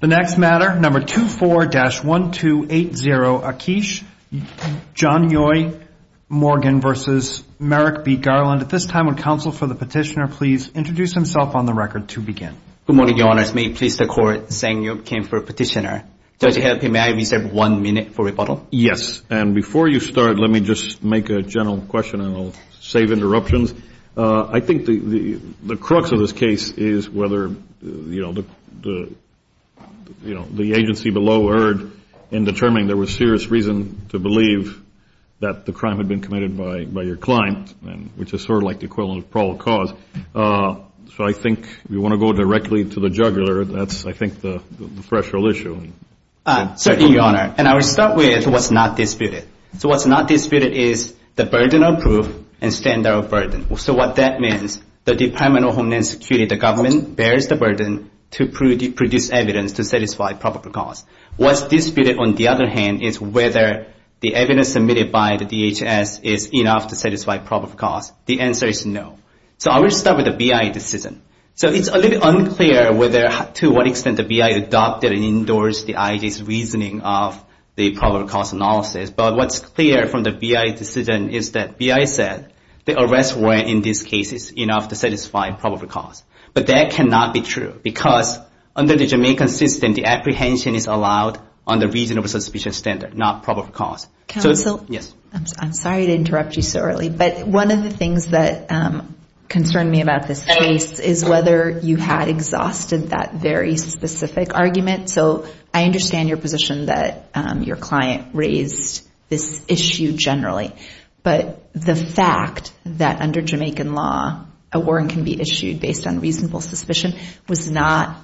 The next matter, number 24-1280, Akeesh. John Yoy, Morgan v. Merrick B. Garland. At this time, would counsel for the petitioner please introduce himself on the record to begin. Good morning, Your Honors. May it please the Court, Zhang Yu came for a petitioner. Does it help him? May I reserve one minute for rebuttal? Yes. And before you start, let me just make a general question, and I'll save interruptions. I think the crux of this case is whether, you know, the agency below erred in determining there was serious reason to believe that the crime had been committed by your client, which is sort of like the equivalent of probable cause. So I think if you want to go directly to the juggler, that's, I think, the threshold issue. Certainly, Your Honor. And I will start with what's not disputed. So what's not disputed is the burden of proof and standard of burden. So what that means, the Department of Homeland Security, the government, bears the burden to produce evidence to satisfy probable cause. What's disputed, on the other hand, is whether the evidence submitted by the DHS is enough to satisfy probable cause. The answer is no. So I will start with the BIA decision. So it's a little unclear to what extent the BIA adopted and endorsed the IJ's reasoning of the probable cause analysis. But what's clear from the BIA decision is that BIA said the arrests were, in these cases, enough to satisfy probable cause. But that cannot be true because under the Jamaican system, the apprehension is allowed under reasonable suspicion standard, not probable cause. Counsel? Yes. I'm sorry to interrupt you so early, but one of the things that concerned me about this case is whether you had exhausted that very specific argument. So I understand your position that your client raised this issue generally. But the fact that under Jamaican law, a warrant can be issued based on reasonable suspicion was not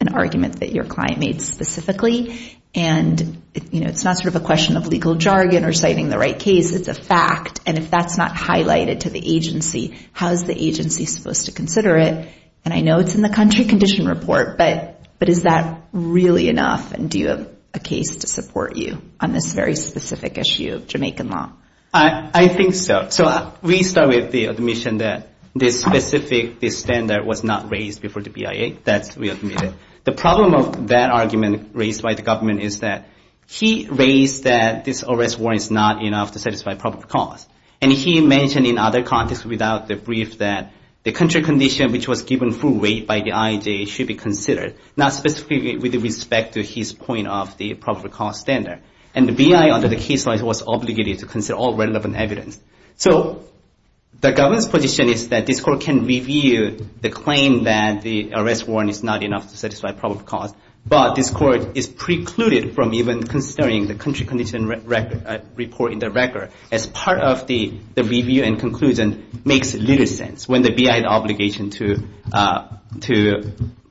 an argument that your client made specifically. And, you know, it's not sort of a question of legal jargon or citing the right case. It's a fact. And if that's not highlighted to the agency, how is the agency supposed to consider it? And I know it's in the country condition report, but is that really enough? And do you have a case to support you on this very specific issue of Jamaican law? I think so. So we start with the admission that this specific standard was not raised before the BIA. That's what we admitted. The problem of that argument raised by the government is that he raised that this arrest warrant is not enough to satisfy probable cause. And he mentioned in other contexts without the brief that the country condition, which was given full weight by the IAJ, should be considered, not specifically with respect to his point of the probable cause standard. And the BIA under the case law was obligated to consider all relevant evidence. So the government's position is that this court can review the claim that the arrest warrant is not enough to satisfy probable cause, but this court is precluded from even considering the country condition report in the record as part of the review and conclusion makes little sense when the BIA has the obligation to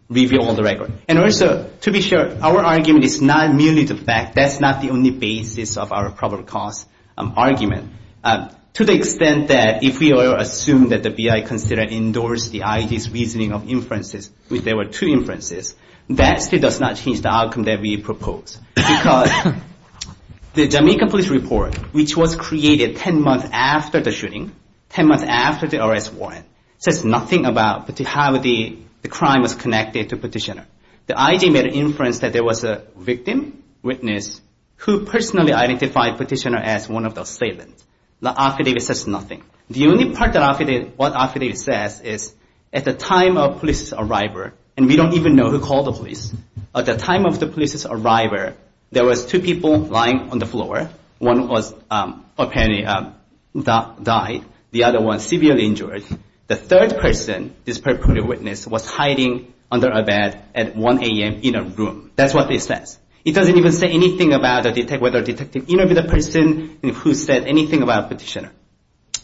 review all the record. And also, to be sure, our argument is not merely the fact. That's not the only basis of our probable cause argument. To the extent that if we assume that the BIA considered indoors the IAJ's reasoning of inferences, if there were two inferences, that still does not change the outcome that we propose. Because the Jamaica police report, which was created 10 months after the shooting, 10 months after the arrest warrant, says nothing about how the crime was connected to Petitioner. The IAJ made an inference that there was a victim, witness, who personally identified Petitioner as one of the assailants. The affidavit says nothing. The only part of what affidavit says is, at the time of police's arrival, and we don't even know who called the police, at the time of the police's arrival, there was two people lying on the floor. One was apparently died. The other one severely injured. The third person, this purported witness, was hiding under a bed at 1 a.m. in a room. That's what it says. It doesn't even say anything about whether detective interviewed the person and who said anything about Petitioner.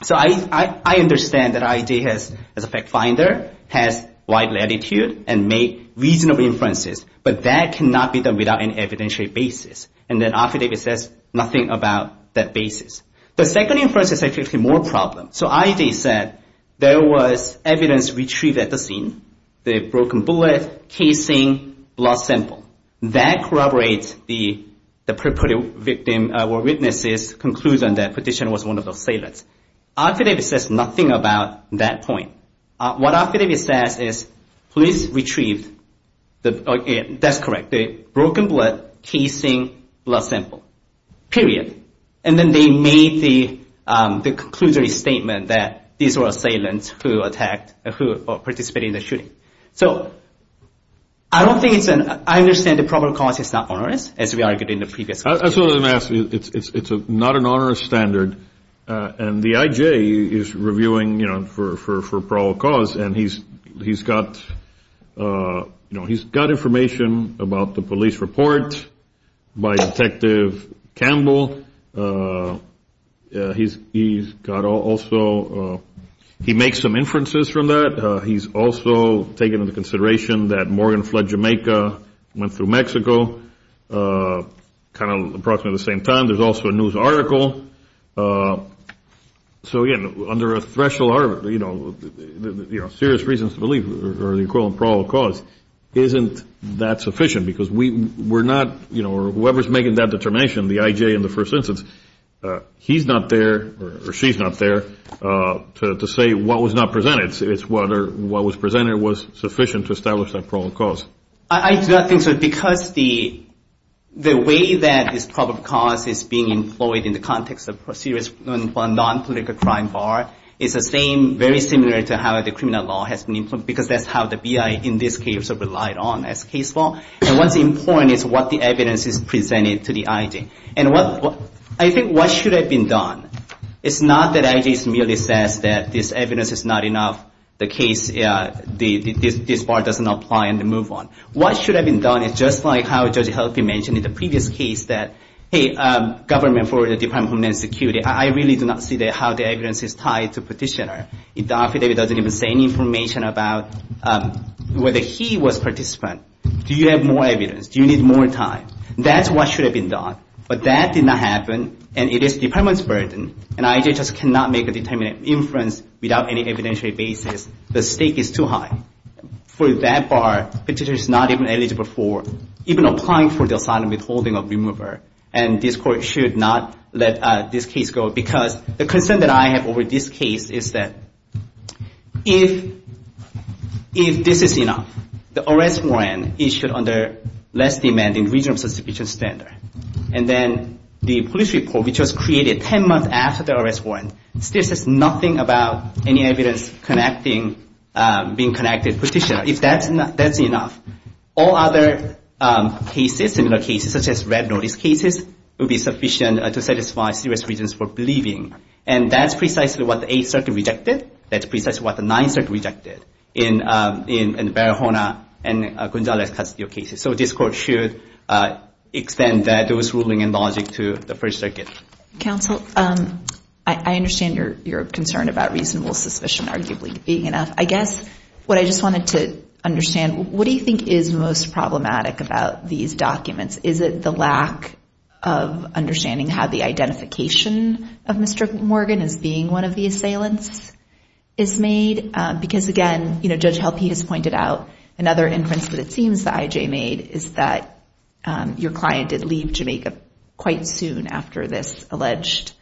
So I understand that IAJ, as a fact finder, has wide latitude and made reasonable inferences, but that cannot be done without an evidentiary basis. And that affidavit says nothing about that basis. The second inference is actually more problem. So IAJ said there was evidence retrieved at the scene, the broken bullet, casing, blood sample. That corroborates the purported victim or witnesses' conclusion that Petitioner was one of the assailants. Affidavit says nothing about that point. What affidavit says is police retrieved, that's correct, the broken bullet, casing, blood sample. Period. And then they made the conclusive statement that these were assailants who attacked, who participated in the shooting. So I don't think it's an, I understand the probable cause is not onerous, as we argued in the previous case. That's what I'm going to ask. It's not an onerous standard. And the IJ is reviewing, you know, for probable cause, and he's got, you know, he's got information about the police report by Detective Campbell. He's got also, he makes some inferences from that. He's also taken into consideration that Morgan fled Jamaica, went through Mexico, kind of approximately at the same time. There's also a news article. So, again, under a threshold, you know, serious reasons to believe, or the equivalent probable cause isn't that sufficient because we're not, you know, or whoever is making that determination, the IJ in the first instance, he's not there or she's not there to say what was not presented. It's whether what was presented was sufficient to establish that probable cause. I do not think so, because the way that this probable cause is being employed in the context of serious non-political crime bar is the same, very similar to how the criminal law has been, because that's how the BI in this case have relied on as case law. And what's important is what the evidence is presented to the IJ. And I think what should have been done, it's not that IJ merely says that this evidence is not enough, the case, this bar doesn't apply and move on. What should have been done is just like how Judge Helphy mentioned in the previous case that, hey, government for the Department of Homeland Security, I really do not see how the evidence is tied to petitioner. If Dr. David doesn't even say any information about whether he was participant, do you have more evidence? Do you need more time? That's what should have been done. But that did not happen, and it is the department's burden, and IJ just cannot make a determinate inference without any evidentiary basis. The stake is too high. For that bar, petitioner is not even eligible for, even applying for the asylum withholding of remover. And this court should not let this case go, because the concern that I have over this case is that if this is enough, the arrest warrant issued under less demanding regional suspicion standard, and then the police report, which was created 10 months after the arrest warrant, still says nothing about any evidence connecting, being connected petitioner. If that's enough, all other cases, similar cases, such as red notice cases, would be sufficient to satisfy serious reasons for believing. And that's precisely what the Eighth Circuit rejected. That's precisely what the Ninth Circuit rejected in Barahona and Gonzalez custody of cases. So this court should extend those ruling and logic to the First Circuit. Counsel, I understand your concern about reasonable suspicion arguably being enough. I guess what I just wanted to understand, what do you think is most problematic about these documents? Is it the lack of understanding how the identification of Mr. Morgan as being one of the assailants is made? Because, again, Judge Halpete has pointed out another inference that it seems that I.J. made, is that your client did leave Jamaica quite soon after this alleged,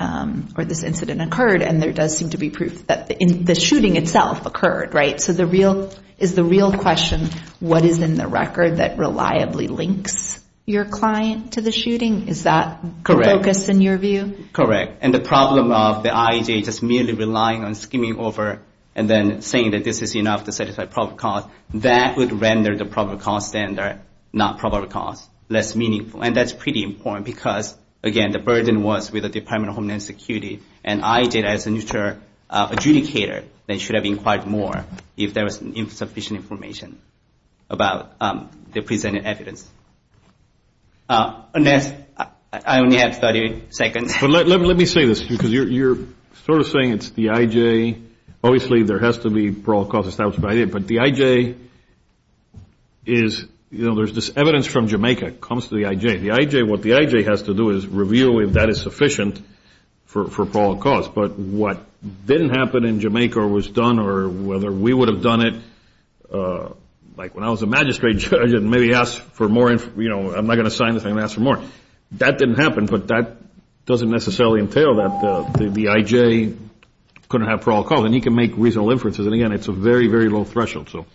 or this incident occurred, and there does seem to be proof that the shooting itself occurred, right? So is the real question what is in the record that reliably links your client to the shooting? Is that the focus in your view? Correct. And the problem of the I.J. just merely relying on skimming over and then saying that this is enough to satisfy probable cause, that would render the probable cause standard, not probable cause, less meaningful. And that's pretty important because, again, the burden was with the Department of Homeland Security and I.J. as a neutral adjudicator that should have inquired more if there was insufficient information about the presented evidence. Ernest, I only have 30 seconds. Let me say this because you're sort of saying it's the I.J. Obviously there has to be probable cause established by the I.J., but the I.J. is, you know, there's this evidence from Jamaica comes to the I.J. The I.J., what the I.J. has to do is review if that is sufficient for probable cause. But what didn't happen in Jamaica or was done or whether we would have done it, like when I was a magistrate judge and maybe asked for more, you know, I'm not going to sign this, I'm going to ask for more. That didn't happen, but that doesn't necessarily entail that the I.J. couldn't have probable cause. And he can make reasonable inferences. And, again, it's a very, very low threshold. So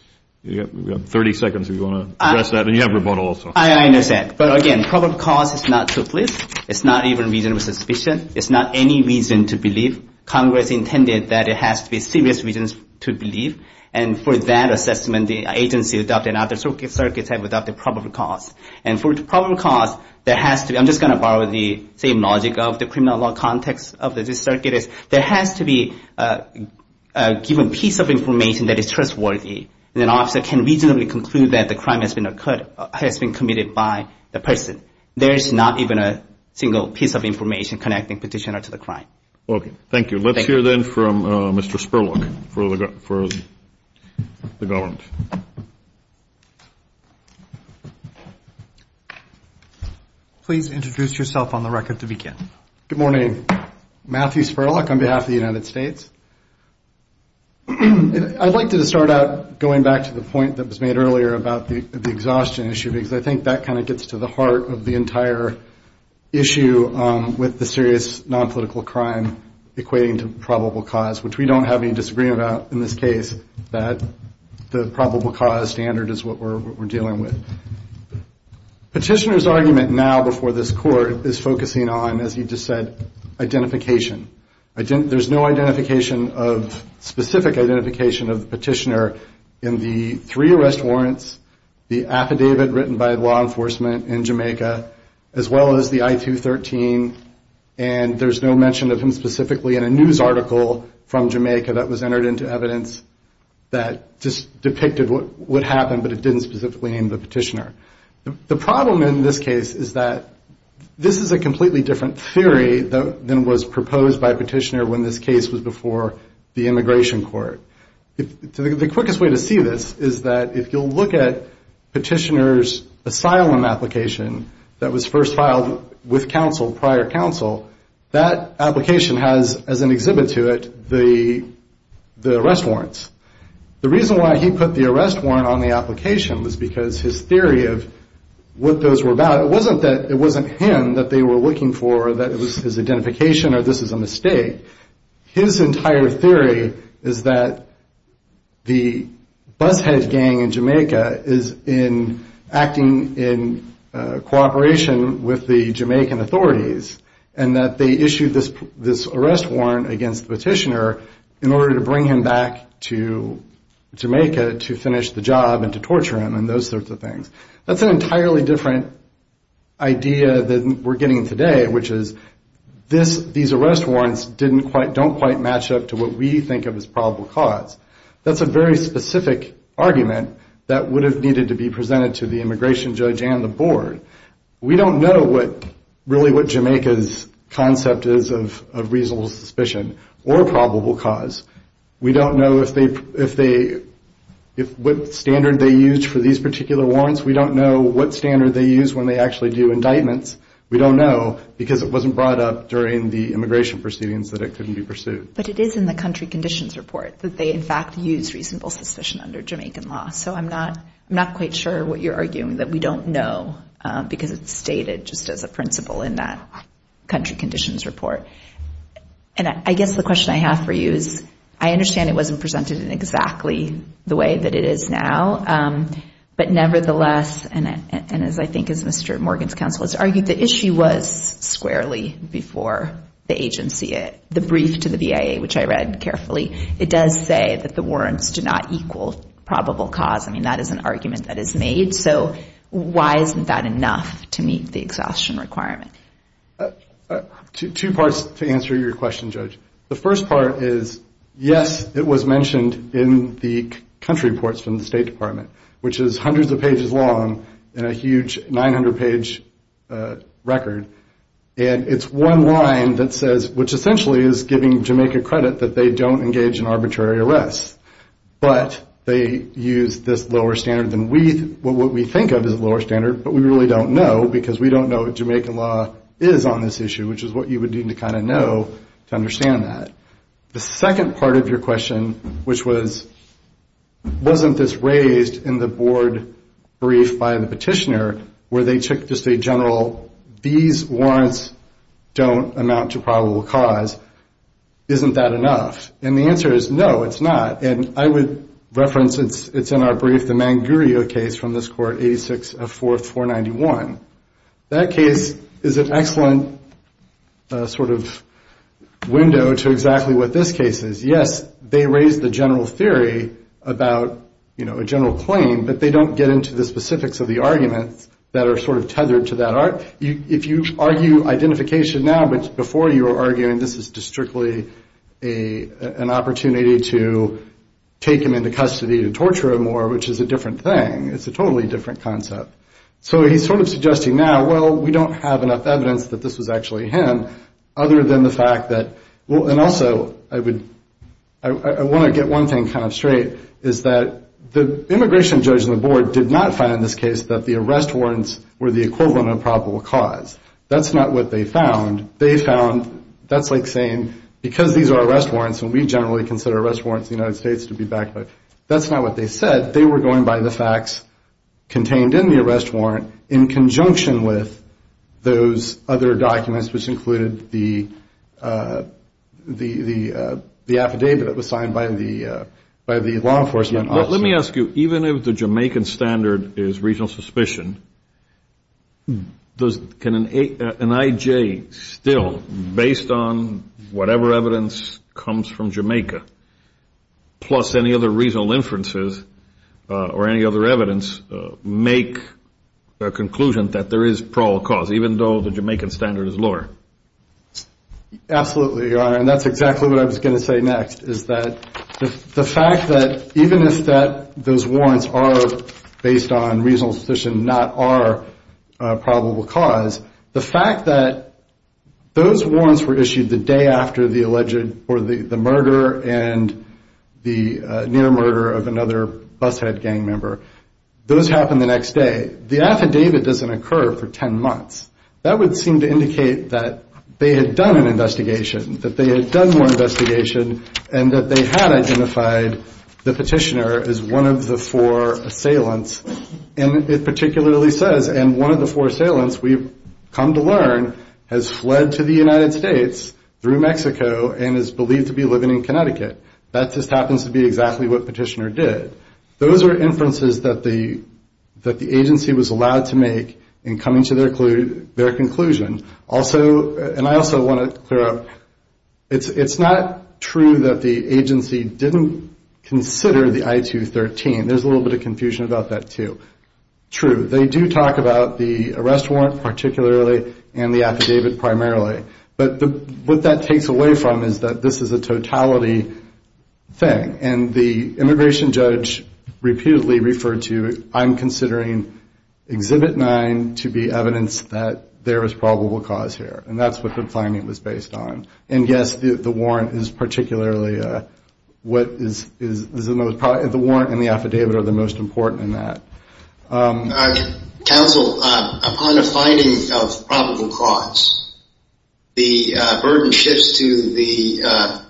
you've got 30 seconds if you want to address that. And you have rebuttal also. I understand. But, again, probable cause is not to fleece. It's not even reason of suspicion. It's not any reason to believe. Congress intended that it has to be serious reasons to believe. And for that assessment, the agency adopted and other circuits have adopted probable cause. And for the probable cause, there has to be – I'm just going to borrow the same logic of the criminal law context of this circuit is there has to be a given piece of information that is trustworthy. And an officer can reasonably conclude that the crime has been committed by the person. There is not even a single piece of information connecting petitioner to the crime. Okay. Thank you. Let's hear, then, from Mr. Spurlock for the government. Please introduce yourself on the record to begin. Good morning. Matthew Spurlock on behalf of the United States. I'd like to start out going back to the point that was made earlier about the exhaustion issue because I think that kind of gets to the heart of the entire issue with the serious nonpolitical crime equating to probable cause, which we don't have any disagreement about in this case, that the probable cause standard is what we're dealing with. Petitioner's argument now before this court is focusing on, as he just said, identification. There's no identification of specific identification of the petitioner in the three arrest warrants, the affidavit written by law enforcement in Jamaica, as well as the I-213, and there's no mention of him specifically in a news article from Jamaica that was entered into evidence that just depicted what happened, but it didn't specifically name the petitioner. The problem in this case is that this is a completely different theory than was proposed by Petitioner when this case was before the immigration court. The quickest way to see this is that if you'll look at Petitioner's asylum application that was first filed with counsel, prior counsel, that application has, as an exhibit to it, the arrest warrants. The reason why he put the arrest warrant on the application was because his theory of what those were about, it wasn't him that they were looking for, that it was his identification or this is a mistake. His entire theory is that the bus-head gang in Jamaica is acting in cooperation with the Jamaican authorities, and that they issued this arrest warrant against Petitioner in order to bring him back to Jamaica to finish the job and to torture him and those sorts of things. That's an entirely different idea than we're getting today, which is these arrest warrants don't quite match up to what we think of as probable cause. That's a very specific argument that would have needed to be presented to the immigration judge and the board. We don't know really what Jamaica's concept is of reasonable suspicion or probable cause. We don't know what standard they used for these particular warrants. We don't know what standard they use when they actually do indictments. We don't know because it wasn't brought up during the immigration proceedings that it couldn't be pursued. But it is in the country conditions report that they, in fact, use reasonable suspicion under Jamaican law. So I'm not quite sure what you're arguing, that we don't know because it's stated just as a principle in that country conditions report. And I guess the question I have for you is I understand it wasn't presented in exactly the way that it is now, but nevertheless, and as I think as Mr. Morgan's counsel has argued, the issue was squarely before the agency. The brief to the BIA, which I read carefully, it does say that the warrants do not equal probable cause. I mean, that is an argument that is made. So why isn't that enough to meet the exhaustion requirement? Two parts to answer your question, Judge. The first part is yes, it was mentioned in the country reports from the State Department, which is hundreds of pages long and a huge 900-page record. And it's one line that says, which essentially is giving Jamaica credit that they don't engage in arbitrary arrests. But they use this lower standard than what we think of as a lower standard, but we really don't know because we don't know what Jamaican law is on this issue, which is what you would need to kind of know to understand that. The second part of your question, which was wasn't this raised in the board brief by the petitioner, where they took just a general these warrants don't amount to probable cause, isn't that enough? And the answer is no, it's not. And I would reference, it's in our brief, the Manguria case from this court, 86 of 4, 491. That case is an excellent sort of window to exactly what this case is. Yes, they raised the general theory about a general claim, but they don't get into the specifics of the arguments that are sort of tethered to that. If you argue identification now, but before you were arguing this is just strictly an opportunity to take him into custody to torture him more, which is a different thing, it's a totally different concept. So he's sort of suggesting now, well, we don't have enough evidence that this was actually him, other than the fact that, and also I want to get one thing kind of straight, is that the immigration judge in the board did not find in this case that the arrest warrants were the equivalent of probable cause. That's not what they found. They found, that's like saying because these are arrest warrants and we generally consider arrest warrants in the United States to be backed by, that's not what they said, they were going by the facts contained in the arrest warrant in conjunction with those other documents, which included the affidavit that was signed by the law enforcement officer. Let me ask you, even if the Jamaican standard is regional suspicion, can an IJ still, based on whatever evidence comes from Jamaica, plus any other regional inferences or any other evidence, make a conclusion that there is probable cause, even though the Jamaican standard is lower? Absolutely, Your Honor, and that's exactly what I was going to say next, is that the fact that even if those warrants are based on regional suspicion, not are probable cause, the fact that those warrants were issued the day after the alleged, or the murder and the near murder of another bushead gang member, those happen the next day, the affidavit doesn't occur for 10 months. That would seem to indicate that they had done an investigation, that they had done more investigation, and that they had identified the petitioner as one of the four assailants, and it particularly says, and one of the four assailants, we've come to learn, has fled to the United States through Mexico and is believed to be living in Connecticut. That just happens to be exactly what the petitioner did. Those are inferences that the agency was allowed to make in coming to their conclusion. Also, and I also want to clear up, it's not true that the agency didn't consider the I-213. There's a little bit of confusion about that, too. True, they do talk about the arrest warrant particularly, and the affidavit primarily, but what that takes away from is that this is a totality thing, and the immigration judge repeatedly referred to, I'm considering Exhibit 9 to be evidence that there is probable cause here, and that's what the finding was based on, and yes, the warrant is particularly, the warrant and the affidavit are the most important in that. Counsel, upon a finding of probable cause, the burden shifts to the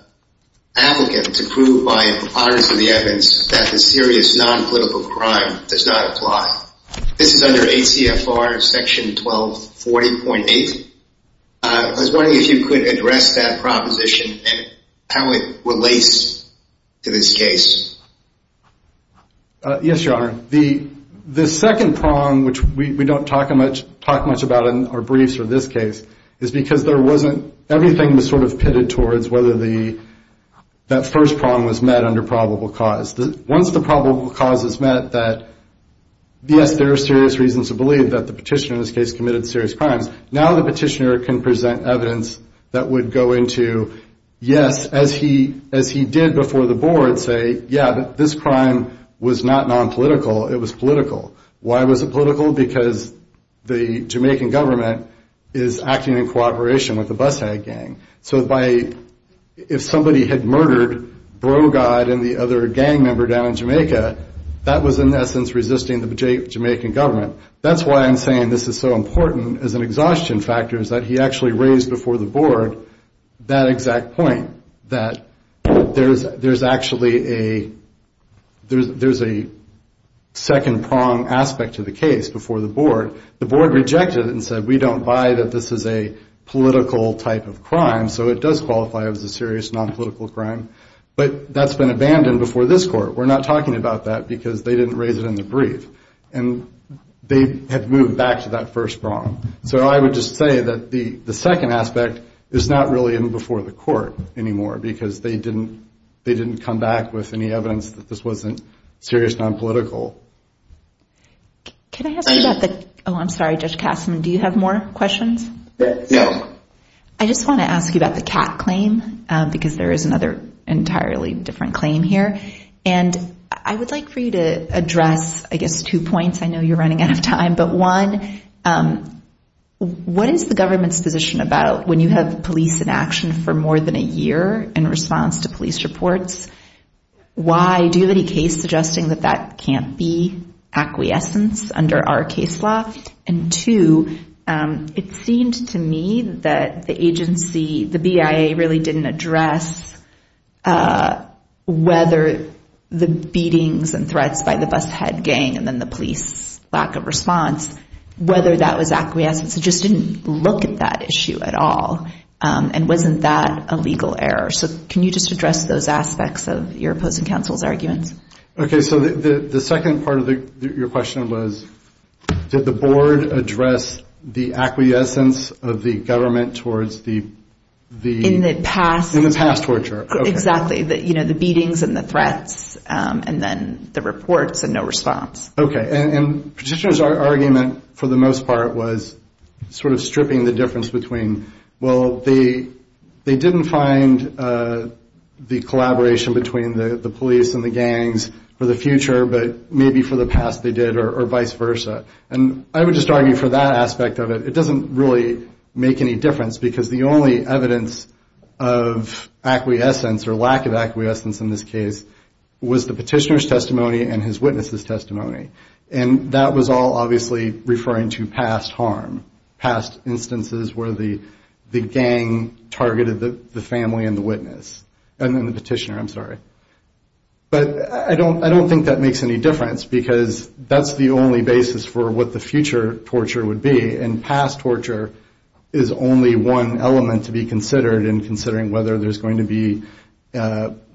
applicant to prove by the powers of the evidence that the serious non-political crime does not apply. This is under ACFR Section 1240.8. I was wondering if you could address that proposition and how it relates to this case. Yes, Your Honor. The second prong, which we don't talk much about in our briefs for this case, is because everything was sort of pitted towards whether that first prong was met under probable cause. Once the probable cause is met that, yes, there are serious reasons to believe that the petitioner in this case committed serious crimes, now the petitioner can present evidence that would go into, yes, as he did before the board, say, yeah, this crime was not non-political, it was political. Why was it political? Because the Jamaican government is acting in cooperation with the bus hag gang. So if somebody had murdered Brogad and the other gang member down in Jamaica, that was in essence resisting the Jamaican government. That's why I'm saying this is so important as an exhaustion factor is that he actually raised before the board that exact point, that there's actually a second prong aspect to the case before the board. The board rejected it and said we don't buy that this is a political type of crime, so it does qualify as a serious non-political crime, but that's been abandoned before this court. We're not talking about that because they didn't raise it in the brief and they have moved back to that first prong. So I would just say that the second aspect is not really in before the court anymore, because they didn't come back with any evidence that this wasn't serious non-political. Can I ask you about the, oh, I'm sorry, Judge Kastman, do you have more questions? I just want to ask you about the cat claim, because there is another entirely different claim here. And I would like for you to address, I guess, two points. I know you're running out of time, but one, what is the government's position about when you have police in action for more than a year in response to police reports? Why? Do you have any case suggesting that that can't be acquiescence under our case law? And two, it seemed to me that the agency, the BIA really didn't address whether the beatings and threats by the bus head gang and then the police lack of response, whether that was acquiescence. It just didn't look at that issue at all, and wasn't that a legal error. So can you just address those aspects of your opposing counsel's arguments? Okay, so the second part of your question was did the board address the acquiescence of the government towards the... In the past. Exactly, the beatings and the threats, and then the reports and no response. Okay, and Petitioner's argument, for the most part, was sort of stripping the difference between, well, they didn't find the collaboration between the police and the gangs for the future, but maybe for the past they did, or vice versa. And I would just argue for that aspect of it, it doesn't really make any difference, because the only evidence of acquiescence or lack of acquiescence in this case was the Petitioner's testimony and his witness's testimony. And that was all obviously referring to past harm, past instances where the gang targeted the family and the witness. And then the Petitioner, I'm sorry. But I don't think that makes any difference, because that's the only basis for what the future torture would be. And past torture is only one element to be considered in considering whether there's going to be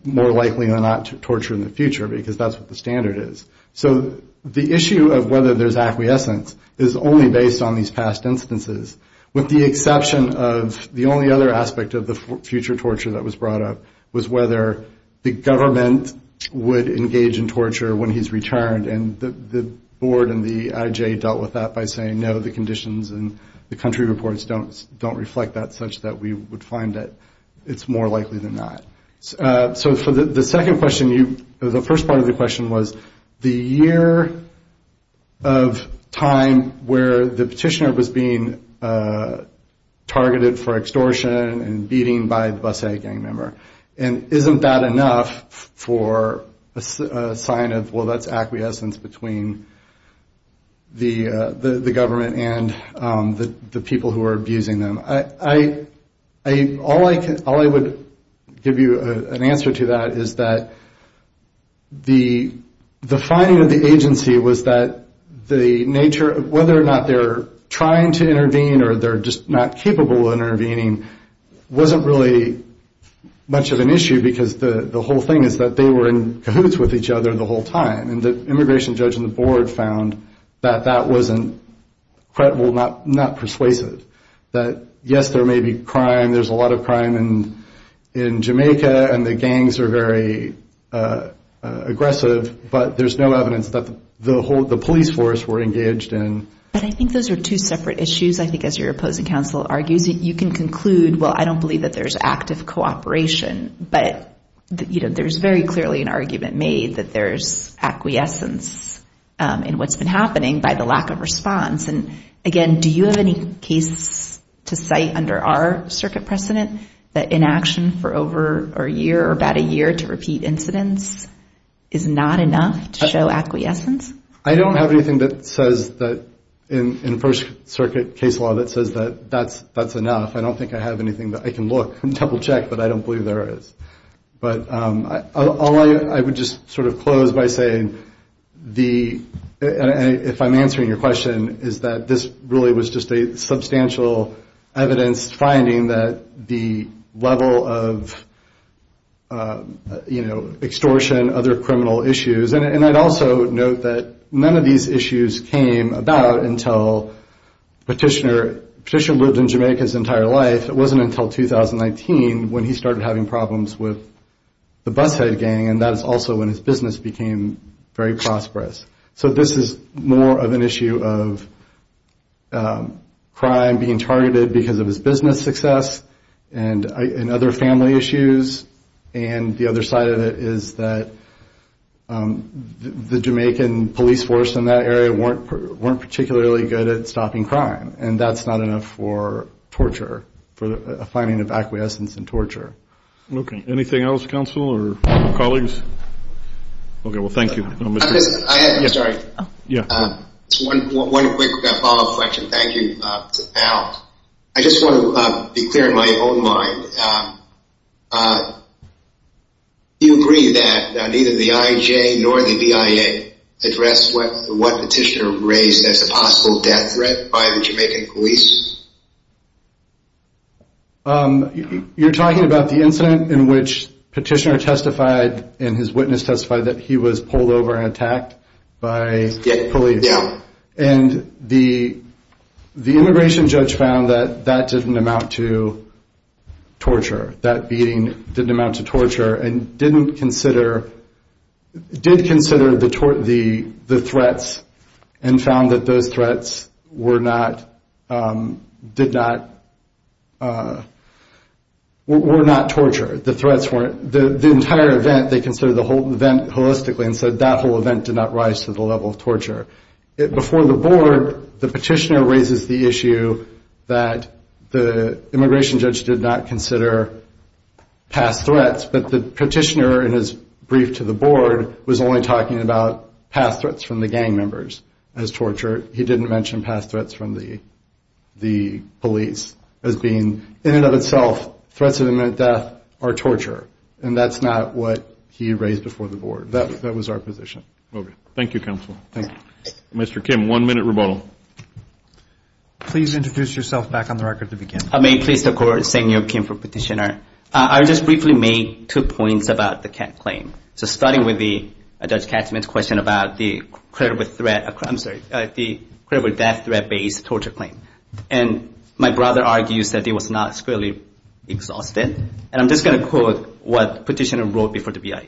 more likely or not to torture in the future, because that's what the standard is. So the issue of whether there's acquiescence is only based on these past instances, with the exception of the only other aspect of the future torture that was brought up was whether the government would engage in torture when he's returned. And the board and the IJ dealt with that by saying, no, the conditions in the country reports don't reflect that such that we would find that it's more likely than not. So for the second question, the first part of the question was, the year of time where the Petitioner was being targeted for extortion and beating by the bus-A gang member, and isn't that enough for a sign of, well, that's acquiescence? Isn't that enough for a sign of acquiescence between the government and the people who are abusing them? All I would give you an answer to that is that the finding of the agency was that the nature of whether or not they're trying to intervene or they're just not capable of intervening wasn't really much of an issue, because the whole thing is that they were in cahoots with each other the whole time. And the immigration judge and the board found that that wasn't credible, not persuasive. That, yes, there may be crime, there's a lot of crime in Jamaica, and the gangs are very aggressive, but there's no evidence that the police force were engaged in. But I think those are two separate issues. I think as your opposing counsel argues it, you can conclude, well, I don't believe that there's active cooperation, but there's very clearly an argument made that there's acquiescence in what's been happening by the lack of response. And, again, do you have any case to cite under our circuit precedent that inaction for over a year or about a year to repeat incidents is not enough to show acquiescence? I don't have anything that says that in the First Circuit case law that says that that's enough. I don't think I have anything that I can look and double-check, but I don't believe there is. But I would just sort of close by saying the – if I'm answering your question – is that this really was just a substantial evidence finding that the level of extortion, other criminal issues, and I'd also note that there's a lot of evidence that there's not enough to show acquiescence. And that none of these issues came about until Petitioner – Petitioner lived in Jamaica his entire life. It wasn't until 2019 when he started having problems with the bus head gang, and that's also when his business became very prosperous. So this is more of an issue of crime being targeted because of his business success and other family issues. And the other side of it is that the Jamaican police force in that area weren't particularly good at stopping crime, and that's not enough for torture, for a finding of acquiescence in torture. Okay. Anything else, counsel or colleagues? Okay. Well, thank you. I have – sorry. One quick follow-up question. Thank you, Al. I just want to be clear in my own mind. Do you agree that neither the IJ nor the BIA addressed what Petitioner raised as a possible death threat by the Jamaican police? You're talking about the incident in which Petitioner testified and his witness testified that he was pulled over and attacked by police. And the immigration judge found that that didn't amount to torture. That beating didn't amount to torture and didn't consider – did consider the threats and found that those threats were not – did not – were not torture. The threats weren't – the entire event, they considered the whole event holistically and said that whole event did not rise to the level of torture. Before the board, the Petitioner raises the issue that the immigration judge did not consider past threats, but the Petitioner in his brief to the board was only talking about past threats from the gang members as torture. He didn't mention past threats from the police as being – in and of itself, threats of imminent death are torture, and that's not what he raised before the board. That was our position. Okay. Thank you, Counsel. Mr. Kim, one minute rebuttal. Please introduce yourself back on the record to begin. May I please, of course, thank you, Kim, for Petitioner. I'll just briefly make two points about the Kat claim. So starting with the Judge Katzman's question about the credible threat – I'm sorry, the credible death threat-based torture claim. And my brother argues that it was not squarely exhausted. And I'm just going to quote what Petitioner wrote before the BIA.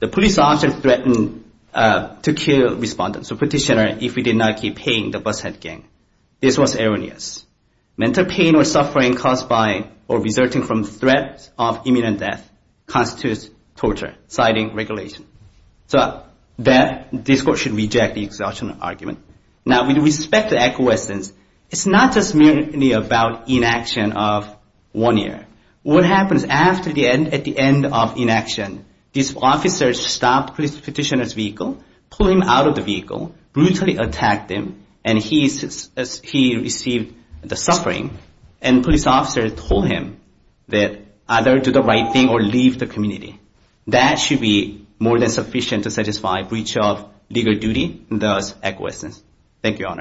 The police officer threatened to kill respondents, so Petitioner, if he did not keep paying the bus head gang. This was erroneous. Mental pain or suffering caused by or resulting from threats of imminent death constitutes torture, citing regulation. So that – this court should reject the exhaustion argument. Now, with respect to acquiescence, it's not just merely about inaction of one year. What happens at the end of inaction, this officer stopped Petitioner's vehicle, pulled him out of the vehicle, brutally attacked him, and he received the suffering. And police officer told him that either do the right thing or leave the community. That should be more than sufficient to satisfy breach of legal duty, and thus acquiescence. Thank you, Your Honor.